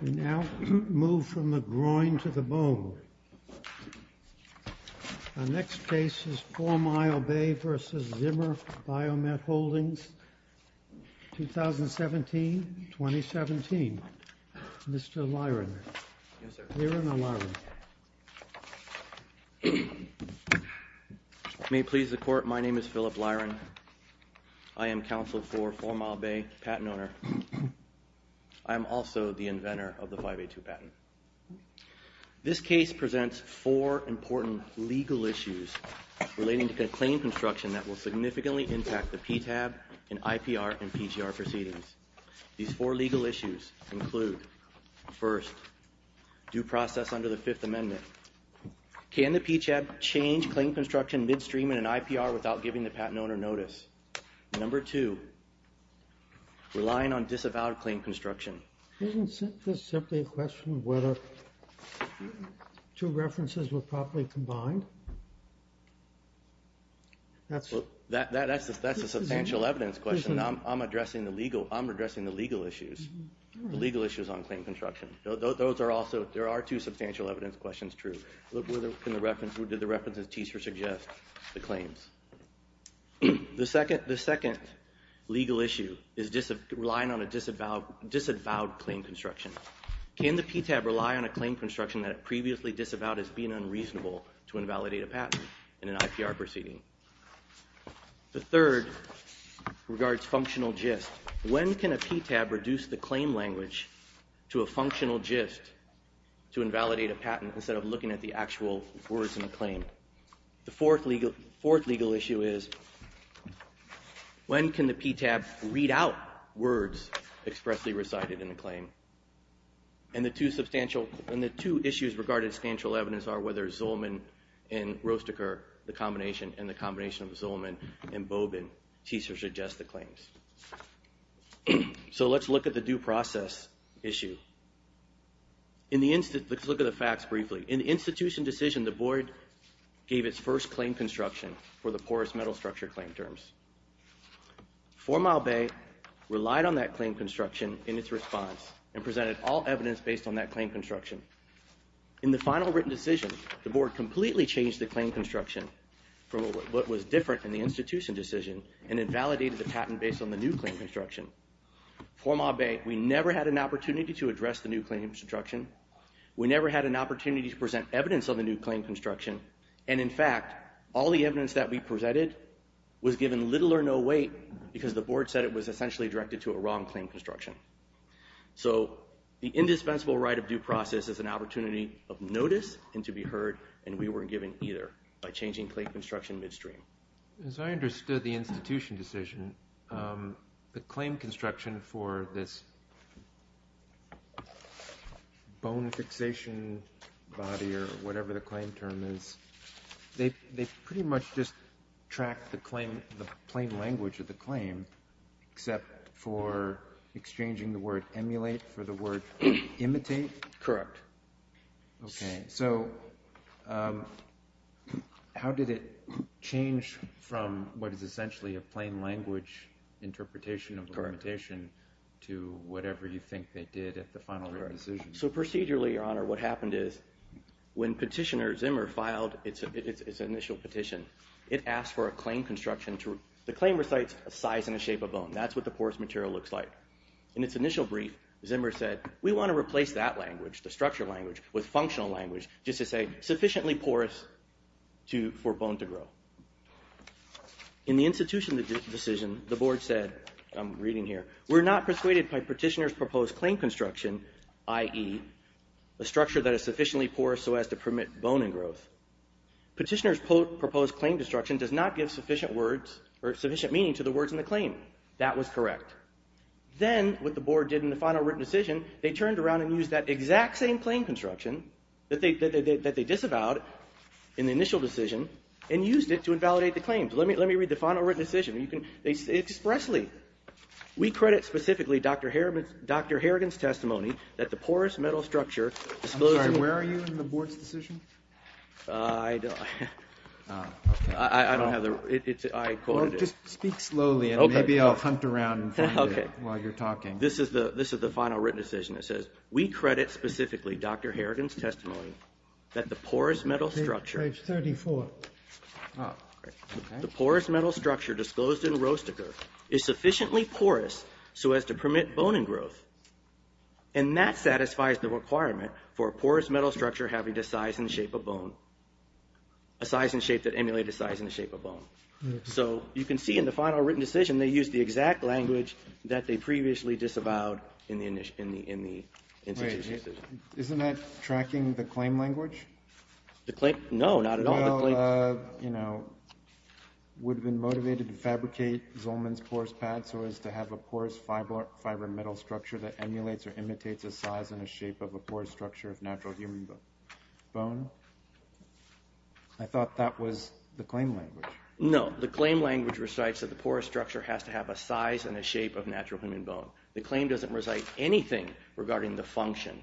We now move from the groin to the bone. Our next case is Four Mile Bay v. Zimmer Biomet Holdings, 2017-2017. Mr. Lyron. Yes, sir. Lyron O'Lyron. May it please the Court, my name is Philip Lyron. I am counsel for Four Mile Bay Patent Owner. I am also the inventor of the 582 patent. This case presents four important legal issues relating to claim construction that will significantly impact the PTAB and IPR and PGR proceedings. These four legal issues include, first, due process under the Fifth Amendment. Can the PTAB change claim construction midstream in an IPR without giving the patent owner notice? Number two, relying on disavowed claim construction. Isn't this simply a question of whether two references were properly combined? That's a substantial evidence question. I'm addressing the legal issues, the legal issues on claim construction. Those are also, there are two substantial evidence questions true. Who did the references teach or suggest the claims? The second legal issue is relying on a disavowed claim construction. Can the PTAB rely on a claim construction that it previously disavowed as being unreasonable to invalidate a patent in an IPR proceeding? The third regards functional gist. When can a PTAB reduce the claim language to a functional gist to invalidate a patent instead of looking at the actual words in the claim? The fourth legal issue is when can the PTAB read out words expressly recited in a claim? And the two issues regarding substantial evidence are whether Zolman and Rosteker, the combination, and the combination of Zolman and Bobin teach or suggest the claims. So let's look at the due process issue. Let's look at the facts briefly. In the institution decision, the board gave its first claim construction for the porous metal structure claim terms. Formal Bay relied on that claim construction in its response and presented all evidence based on that claim construction. In the final written decision, the board completely changed the claim construction from what was different in the institution decision and invalidated the patent based on the new claim construction. Formal Bay, we never had an opportunity to address the new claim construction. We never had an opportunity to present evidence of the new claim construction. And in fact, all the evidence that we presented was given little or no weight because the board said it was essentially directed to a wrong claim construction. So the indispensable right of due process is an opportunity of notice and to be heard, and we weren't given either by changing claim construction midstream. As I understood the institution decision, the claim construction for this bone fixation body or whatever the claim term is, they pretty much just tracked the plain language of the claim except for exchanging the word emulate for the word imitate? Correct. Okay, so how did it change from what is essentially a plain language interpretation of imitation to whatever you think they did at the final written decision? So procedurally, Your Honor, what happened is when petitioner Zimmer filed its initial petition, it asked for a claim construction. The claim recites a size and a shape of bone. That's what the porous material looks like. In its initial brief, Zimmer said, we want to replace that language, the structure language, with functional language just to say sufficiently porous for bone to grow. In the institution decision, the board said, I'm reading here, we're not persuaded by petitioner's proposed claim construction, i.e., a structure that is sufficiently porous so as to permit bone and growth. Petitioner's proposed claim construction does not give sufficient words or sufficient meaning to the words in the claim. That was correct. Then what the board did in the final written decision, they turned around and used that exact same claim construction that they disavowed in the initial decision and used it to invalidate the claims. Let me read the final written decision. They expressly, we credit specifically Dr. Harrigan's testimony that the porous metal structure disclosed to the board. I'm sorry, where are you in the board's decision? I don't have the, I quoted it. Just speak slowly and maybe I'll hunt around and find it while you're talking. This is the final written decision. It says, we credit specifically Dr. Harrigan's testimony that the porous metal structure. Page 34. The porous metal structure disclosed in Roesteker is sufficiently porous so as to permit bone and growth. And that satisfies the requirement for a porous metal structure having the size and shape of bone, a size and shape that emulate a size and shape of bone. So you can see in the final written decision they used the exact language that they previously disavowed in the initial decision. Isn't that tracking the claim language? The claim, no, not at all. You know, would have been motivated to fabricate Zolman's porous pad so as to have a porous fiber metal structure that emulates or imitates a size and a shape of a porous structure of natural human bone. I thought that was the claim language. No, the claim language recites that the porous structure has to have a size and a shape of natural human bone. The claim doesn't recite anything regarding the function.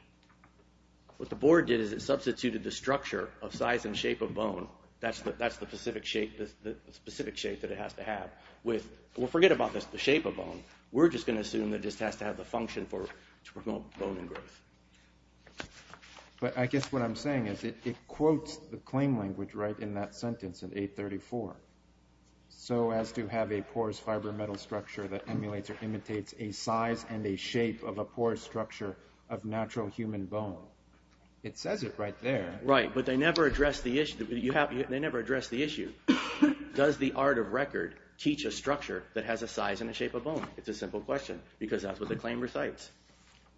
What the board did is it substituted the structure of size and shape of bone. That's the specific shape that it has to have. We'll forget about the shape of bone. We're just going to assume that it just has to have the function to promote bone and growth. But I guess what I'm saying is it quotes the claim language right in that sentence in 834, so as to have a porous fiber metal structure that emulates or imitates a size and a shape of a porous structure of natural human bone. It says it right there. Right, but they never address the issue. Does the art of record teach a structure that has a size and a shape of bone? It's a simple question because that's what the claim recites.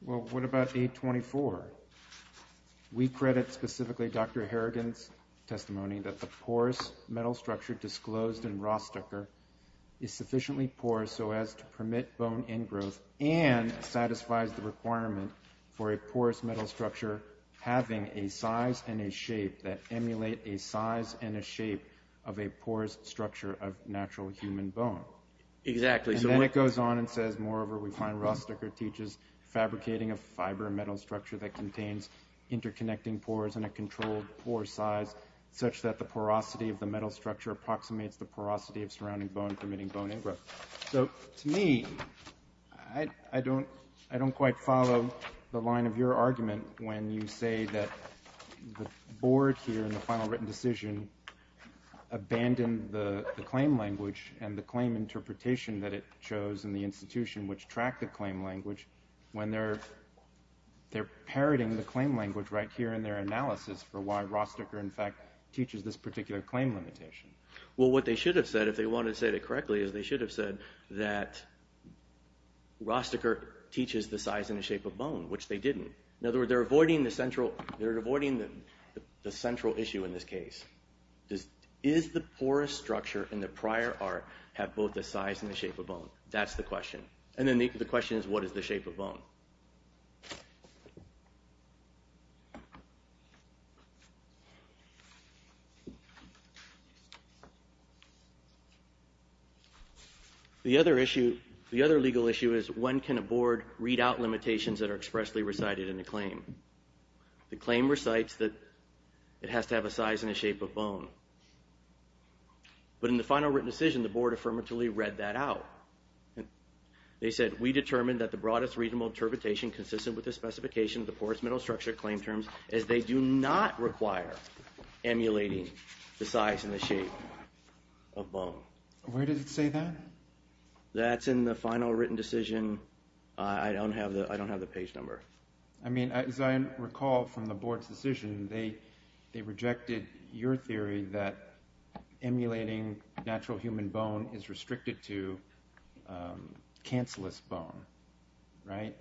Well, what about 824? We credit specifically Dr. Harrigan's testimony that the porous metal structure disclosed in Rostecker is sufficiently porous so as to permit bone and growth and satisfies the requirement for a porous metal structure having a size and a shape that emulate a size and a shape of a porous structure of natural human bone. Exactly. Then it goes on and says, moreover, we find Rostecker teaches fabricating a fiber metal structure that contains interconnecting pores and a controlled pore size such that the porosity of the metal structure approximates the porosity of surrounding bone permitting bone and growth. So, to me, I don't quite follow the line of your argument when you say that the board here in the final written decision abandoned the claim language and the claim interpretation that it chose in the institution which tracked the claim language when they're parroting the claim language right here in their analysis for why Rostecker, in fact, teaches this particular claim limitation. Well, what they should have said if they wanted to say that correctly is they should have said that Rostecker teaches the size and the shape of bone, which they didn't. In other words, they're avoiding the central issue in this case. Does the porous structure in the prior art have both the size and the shape of bone? That's the question. And then the question is what is the shape of bone? The other legal issue is when can a board read out limitations that are expressly recited in a claim? The claim recites that it has to have a size and a shape of bone. But in the final written decision, the board affirmatively read that out. They said we determined that the broadest reasonable interpretation consistent with the specification of the porous metal structure claim terms is they do not require emulating the size and the shape of bone. Where does it say that? That's in the final written decision. I don't have the page number. I mean, as I recall from the board's decision, they rejected your theory that emulating natural human bone is restricted to cancellous bone, right?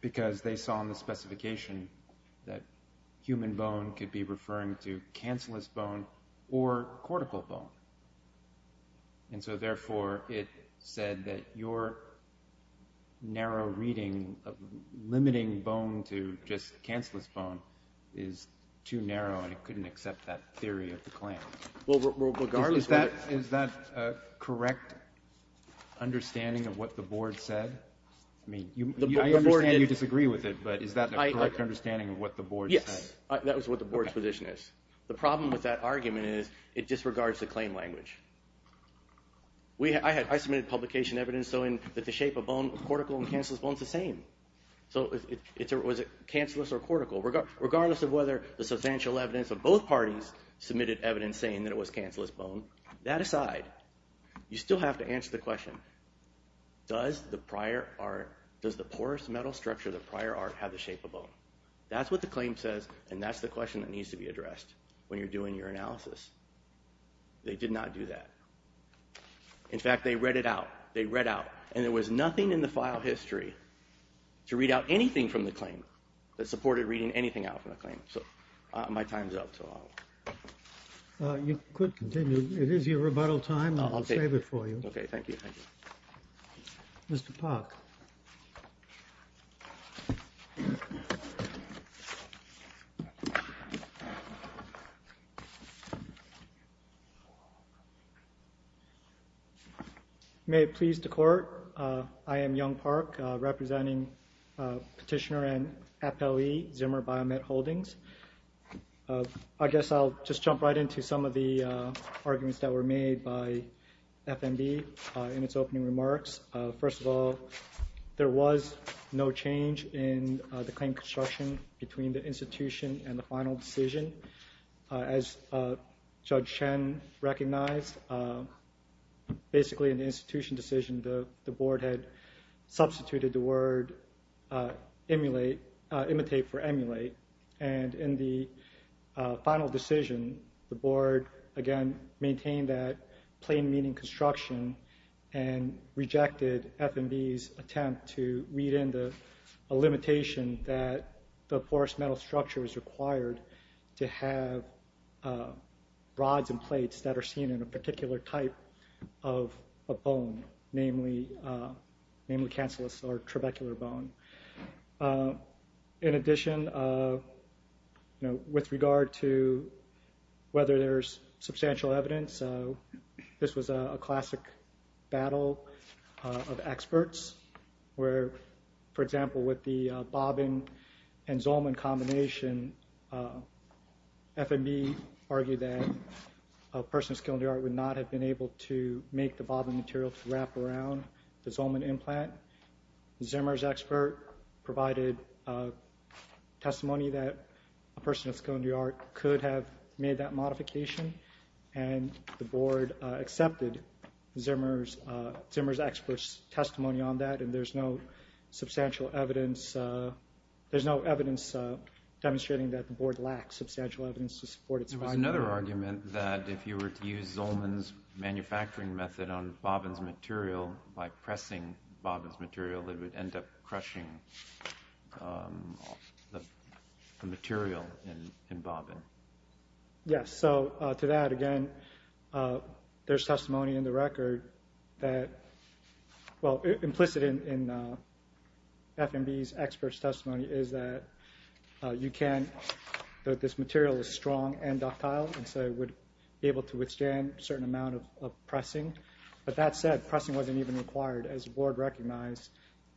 Because they saw in the specification that human bone could be referring to cancellous bone or cortical bone. And so, therefore, it said that your narrow reading of limiting bone to just cancellous bone is too narrow and it couldn't accept that theory of the claim. Is that a correct understanding of what the board said? I understand you disagree with it, but is that a correct understanding of what the board said? Yes, that was what the board's position is. The problem with that argument is it disregards the claim language. I submitted publication evidence showing that the shape of bone, cortical and cancellous bone is the same. So was it cancellous or cortical? Regardless of whether the substantial evidence of both parties submitted evidence saying that it was cancellous bone, that aside, you still have to answer the question, does the porous metal structure of the prior art have the shape of bone? That's what the claim says, and that's the question that needs to be addressed when you're doing your analysis. They did not do that. In fact, they read it out. They read out, and there was nothing in the file history to read out anything from the claim that supported reading anything out from the claim. So my time's up. You could continue. It is your rebuttal time, and I'll save it for you. Okay, thank you. Mr. Park. Thank you. May it please the Court, I am Young Park, representing Petitioner and FLE Zimmer Biomet Holdings. I guess I'll just jump right into some of the arguments that were made by FMB in its opening remarks. First of all, there was no change in the claim construction between the institution and the final decision. As Judge Chen recognized, basically in the institution decision, the Board had substituted the word imitate for emulate, and in the final decision, the Board, again, maintained that plain meaning construction and rejected FMB's attempt to read into a limitation that the porous metal structure is required to have rods and plates that are seen in a particular type of bone, namely cancellous or trabecular bone. In addition, with regard to whether there's substantial evidence, this was a classic battle of experts where, for example, with the bobbin and Zolman combination, FMB argued that a person with a skill in the art would not have been able to make the bobbin material to wrap around the Zolman implant. Zimmer's expert provided testimony that a person with a skill in the art could have made that modification, and the Board accepted Zimmer's expert's testimony on that, and there's no substantial evidence demonstrating that the Board lacks substantial evidence to support its finding. There was another argument that if you were to use Zolman's manufacturing method on bobbin's material by pressing bobbin's material, it would end up crushing the material in bobbin. Yes, so to that, again, there's testimony in the record that, well, implicit in FMB's expert's testimony is that you can, that this material is strong and doctile, and so it would be able to withstand a certain amount of pressing, but that said, pressing wasn't even required. As the Board recognized,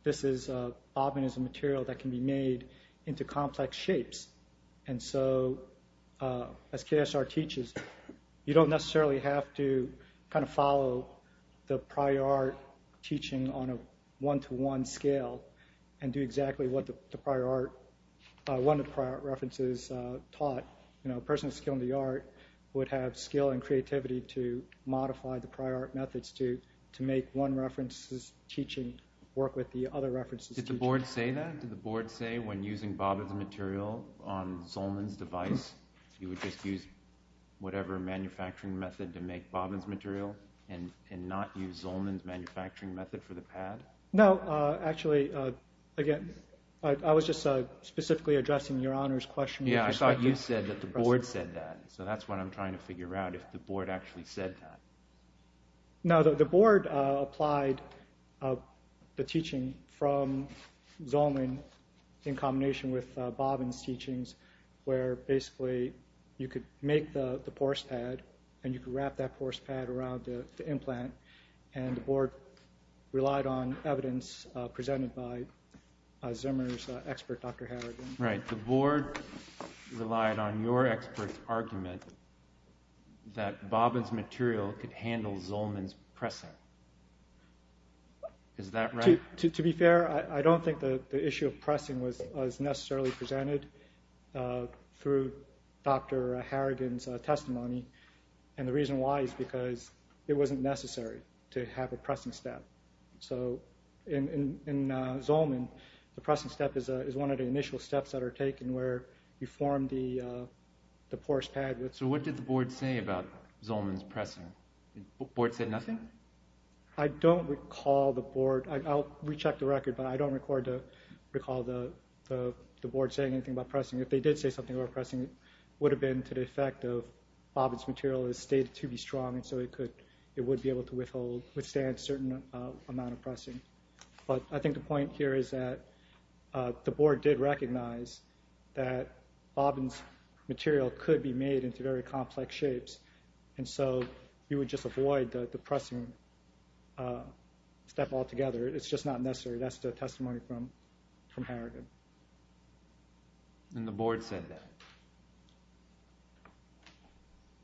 this is, bobbin is a material that can be made into complex shapes, and so as KSR teaches, you don't necessarily have to kind of follow the prior art teaching on a one-to-one scale and do exactly what the prior art, one of the prior art references taught. A person with a skill in the art would have skill and creativity to modify the prior art methods to make one reference's teaching work with the other reference's teaching. Did the Board say that? Did the Board say when using bobbin's material on Zolman's device, you would just use whatever manufacturing method to make bobbin's material and not use Zolman's manufacturing method for the pad? No, actually, again, I was just specifically addressing Your Honor's question. Yeah, I thought you said that the Board said that, so that's what I'm trying to figure out, if the Board actually said that. No, the Board applied the teaching from Zolman in combination with bobbin's teachings, where basically you could make the porce pad and you could wrap that porce pad around the implant, and the Board relied on evidence presented by Zimmer's expert, Dr. Harrigan. Right, the Board relied on your expert's argument that bobbin's material could handle Zolman's pressing. Is that right? To be fair, I don't think the issue of pressing was necessarily presented through Dr. Harrigan's testimony, and the reason why is because it wasn't necessary to have a pressing step. So in Zolman, the pressing step is one of the initial steps that are taken where you form the porce pad. So what did the Board say about Zolman's pressing? The Board said nothing? I don't recall the Board. I'll recheck the record, but I don't recall the Board saying anything about pressing. If they did say something about pressing, it would have been to the effect of bobbin's material is stated to be strong, so it would be able to withstand a certain amount of pressing. But I think the point here is that the Board did recognize that bobbin's material could be made into very complex shapes, and so you would just avoid the pressing step altogether. It's just not necessary. That's the testimony from Harrigan. And the Board said that?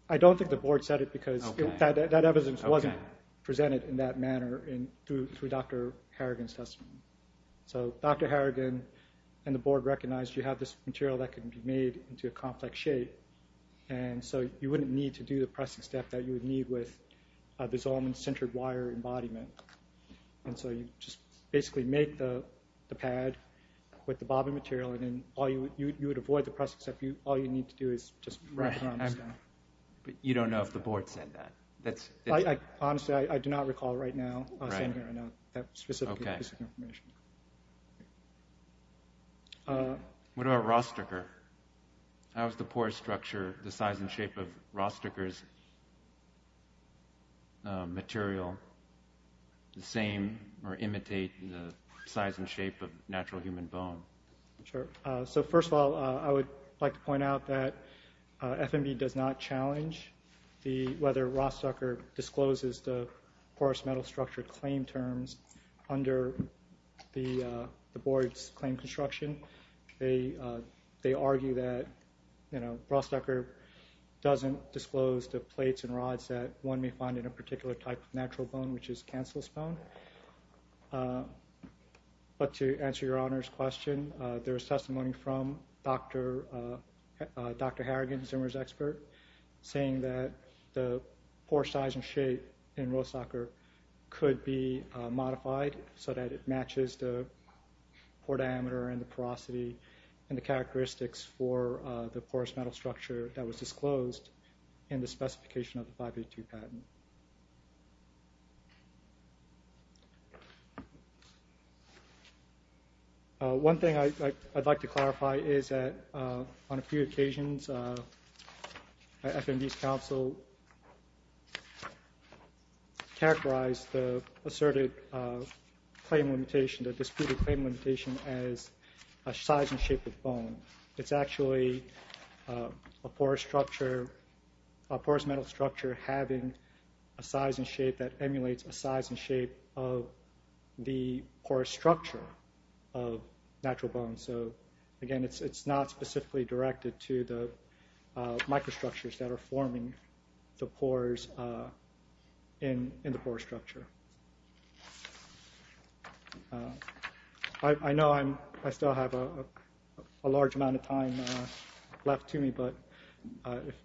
I don't think the Board said it because that evidence wasn't presented in that manner through Dr. Harrigan's testimony. So Dr. Harrigan and the Board recognized you have this material that can be made into a complex shape, and so you wouldn't need to do the pressing step that you would need with a Zolman-centered wire embodiment. And so you just basically make the pad with the bobbin material, and then you would avoid the pressing step. All you need to do is just work around the step. But you don't know if the Board said that? Honestly, I do not recall right now saying that specific piece of information. What about Rosteker? How is the pore structure, the size and shape of Rosteker's material, the same or imitate the size and shape of natural human bone? Sure. So first of all, I would like to point out that FMB does not challenge whether Rosteker discloses the porous metal structure claim terms under the Board's claim construction. They argue that Rosteker doesn't disclose the plates and rods that one may find in a particular type of natural bone, which is cancerous bone. But to answer your Honor's question, there is testimony from Dr. Harrigan, Zimmer's expert, saying that the pore size and shape in Rosteker could be modified so that it matches the pore diameter and the porosity and the characteristics for the porous metal structure that was disclosed in the specification of the 582 patent. One thing I'd like to clarify is that on a few occasions, FMB's counsel characterized the asserted claim limitation, the disputed claim limitation as a size and shape of bone. It's actually a porous structure, a porous metal structure having a size and shape that emulates a size and shape of the porous structure of natural bone. So again, it's not specifically directed to the microstructures that are forming the pores in the porous structure. I know I still have a large amount of time left to me, but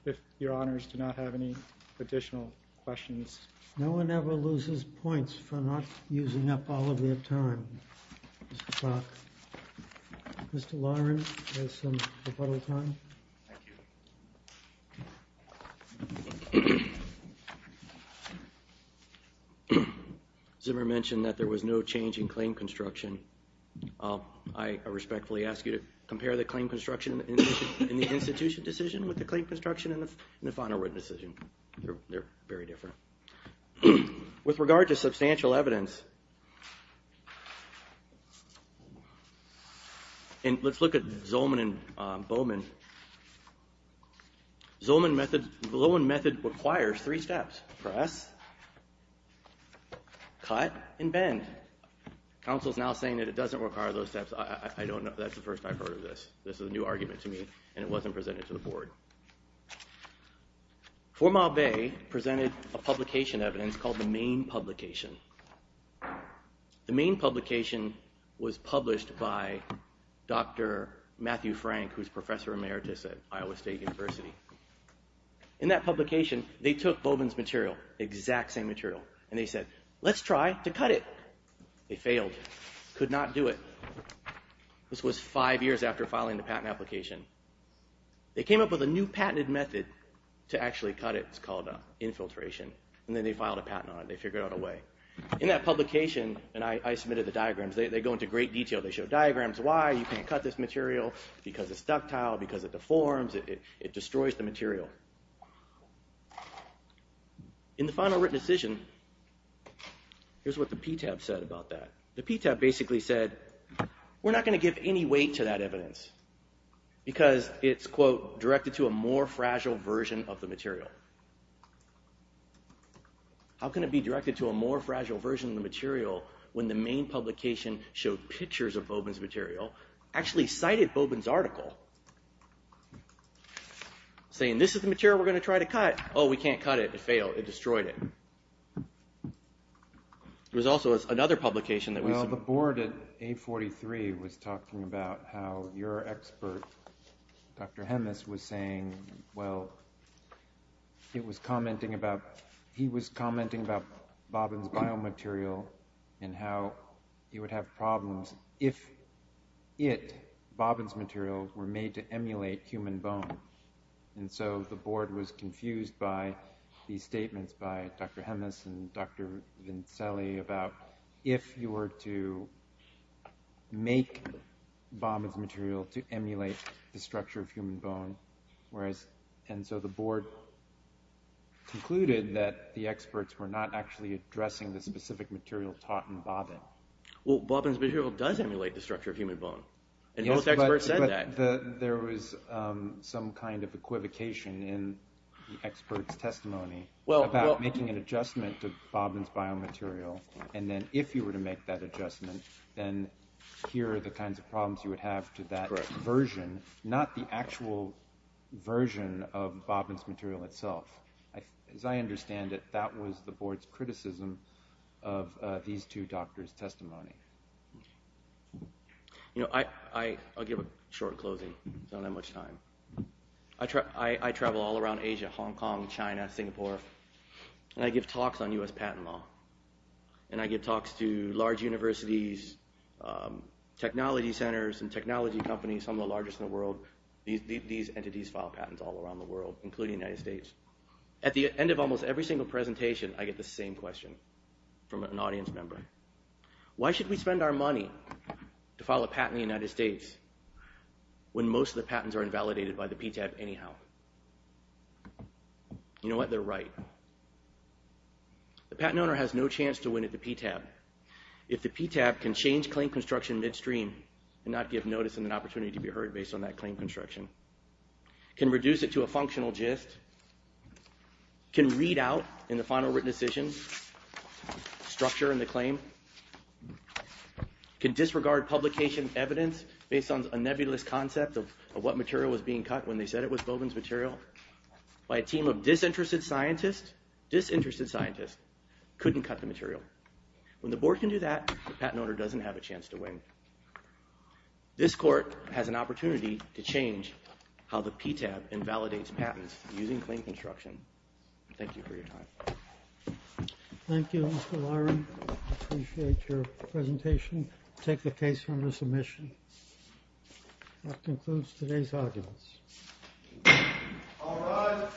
if your Honors do not have any additional questions. No one ever loses points for not using up all of their time. Mr. Clark. Mr. Lauren, do you have some rebuttal time? Thank you. Zimmer mentioned that there was no change in claim construction. I respectfully ask you to compare the claim construction in the institution decision with the claim construction in the final written decision. They're very different. With regard to substantial evidence, and let's look at Zolman and Bowman. Zolman method requires three steps. Press, cut, and bend. Council's now saying that it doesn't require those steps. I don't know. That's the first I've heard of this. This is a new argument to me, and it wasn't presented to the board. Formal Bay presented a publication evidence called the Main Publication. The Main Publication was published by Dr. Matthew Frank, who's professor emeritus at Iowa State University. In that publication, they took Bowman's material, exact same material, and they said, let's try to cut it. They failed. Could not do it. This was five years after filing the patent application. They came up with a new patented method to actually cut it. It's called infiltration, and then they filed a patent on it. They figured out a way. In that publication, and I submitted the diagrams. They go into great detail. They show diagrams, why you can't cut this material, because it's ductile, because it deforms, it destroys the material. In the final written decision, here's what the PTAB said about that. The PTAB basically said, we're not going to give any weight to that evidence, because it's, quote, directed to a more fragile version of the material. How can it be directed to a more fragile version of the material when the Main Publication showed pictures of Bowman's material, actually cited Bowman's article, saying this is the material we're going to try to cut. Oh, we can't cut it. It failed. It destroyed it. There was also another publication that was... Well, the board at 843 was talking about how your expert, Dr. Hemis, was saying, well, it was commenting about, he was commenting about Bowman's biomaterial and how you would have problems if it, Bowman's material, were made to emulate human bone. And so the board was confused by these statements by Dr. Hemis and Dr. Vinceli about if you were to make Bowman's material to emulate the structure of human bone, and so the board concluded that the experts were not actually addressing the specific material taught in Bowman. Well, Bowman's material does emulate the structure of human bone, and most experts said that. But there was some kind of equivocation in the experts' testimony about making an adjustment to Bowman's biomaterial, and then if you were to make that adjustment, then here are the kinds of problems you would have to that version, not the actual version of Bowman's material itself. As I understand it, that was the board's criticism of these two doctors' testimony. You know, I'll give a short closing. There's not that much time. I travel all around Asia, Hong Kong, China, Singapore, and I give talks on U.S. patent law. And I give talks to large universities, technology centers and technology companies, some of the largest in the world. These entities file patents all around the world, including the United States. At the end of almost every single presentation, I get the same question from an audience member. Why should we spend our money to file a patent in the United States when most of the patents are invalidated by the PTAB anyhow? You know what? They're right. The patent owner has no chance to win at the PTAB. If the PTAB can change claim construction midstream and not give notice and an opportunity to be heard based on that claim construction, can reduce it to a functional gist, can read out in the final written decision structure in the claim, can disregard publication evidence based on a nebulous concept of what material was being cut when they said it was Bowdoin's material by a team of disinterested scientists, disinterested scientists, couldn't cut the material. When the board can do that, the patent owner doesn't have a chance to win. This court has an opportunity to change how the PTAB invalidates patents using claim construction. Thank you for your time. Thank you, Mr. Lyron. I appreciate your presentation. I'll take the case from the submission. That concludes today's arguments. All rise.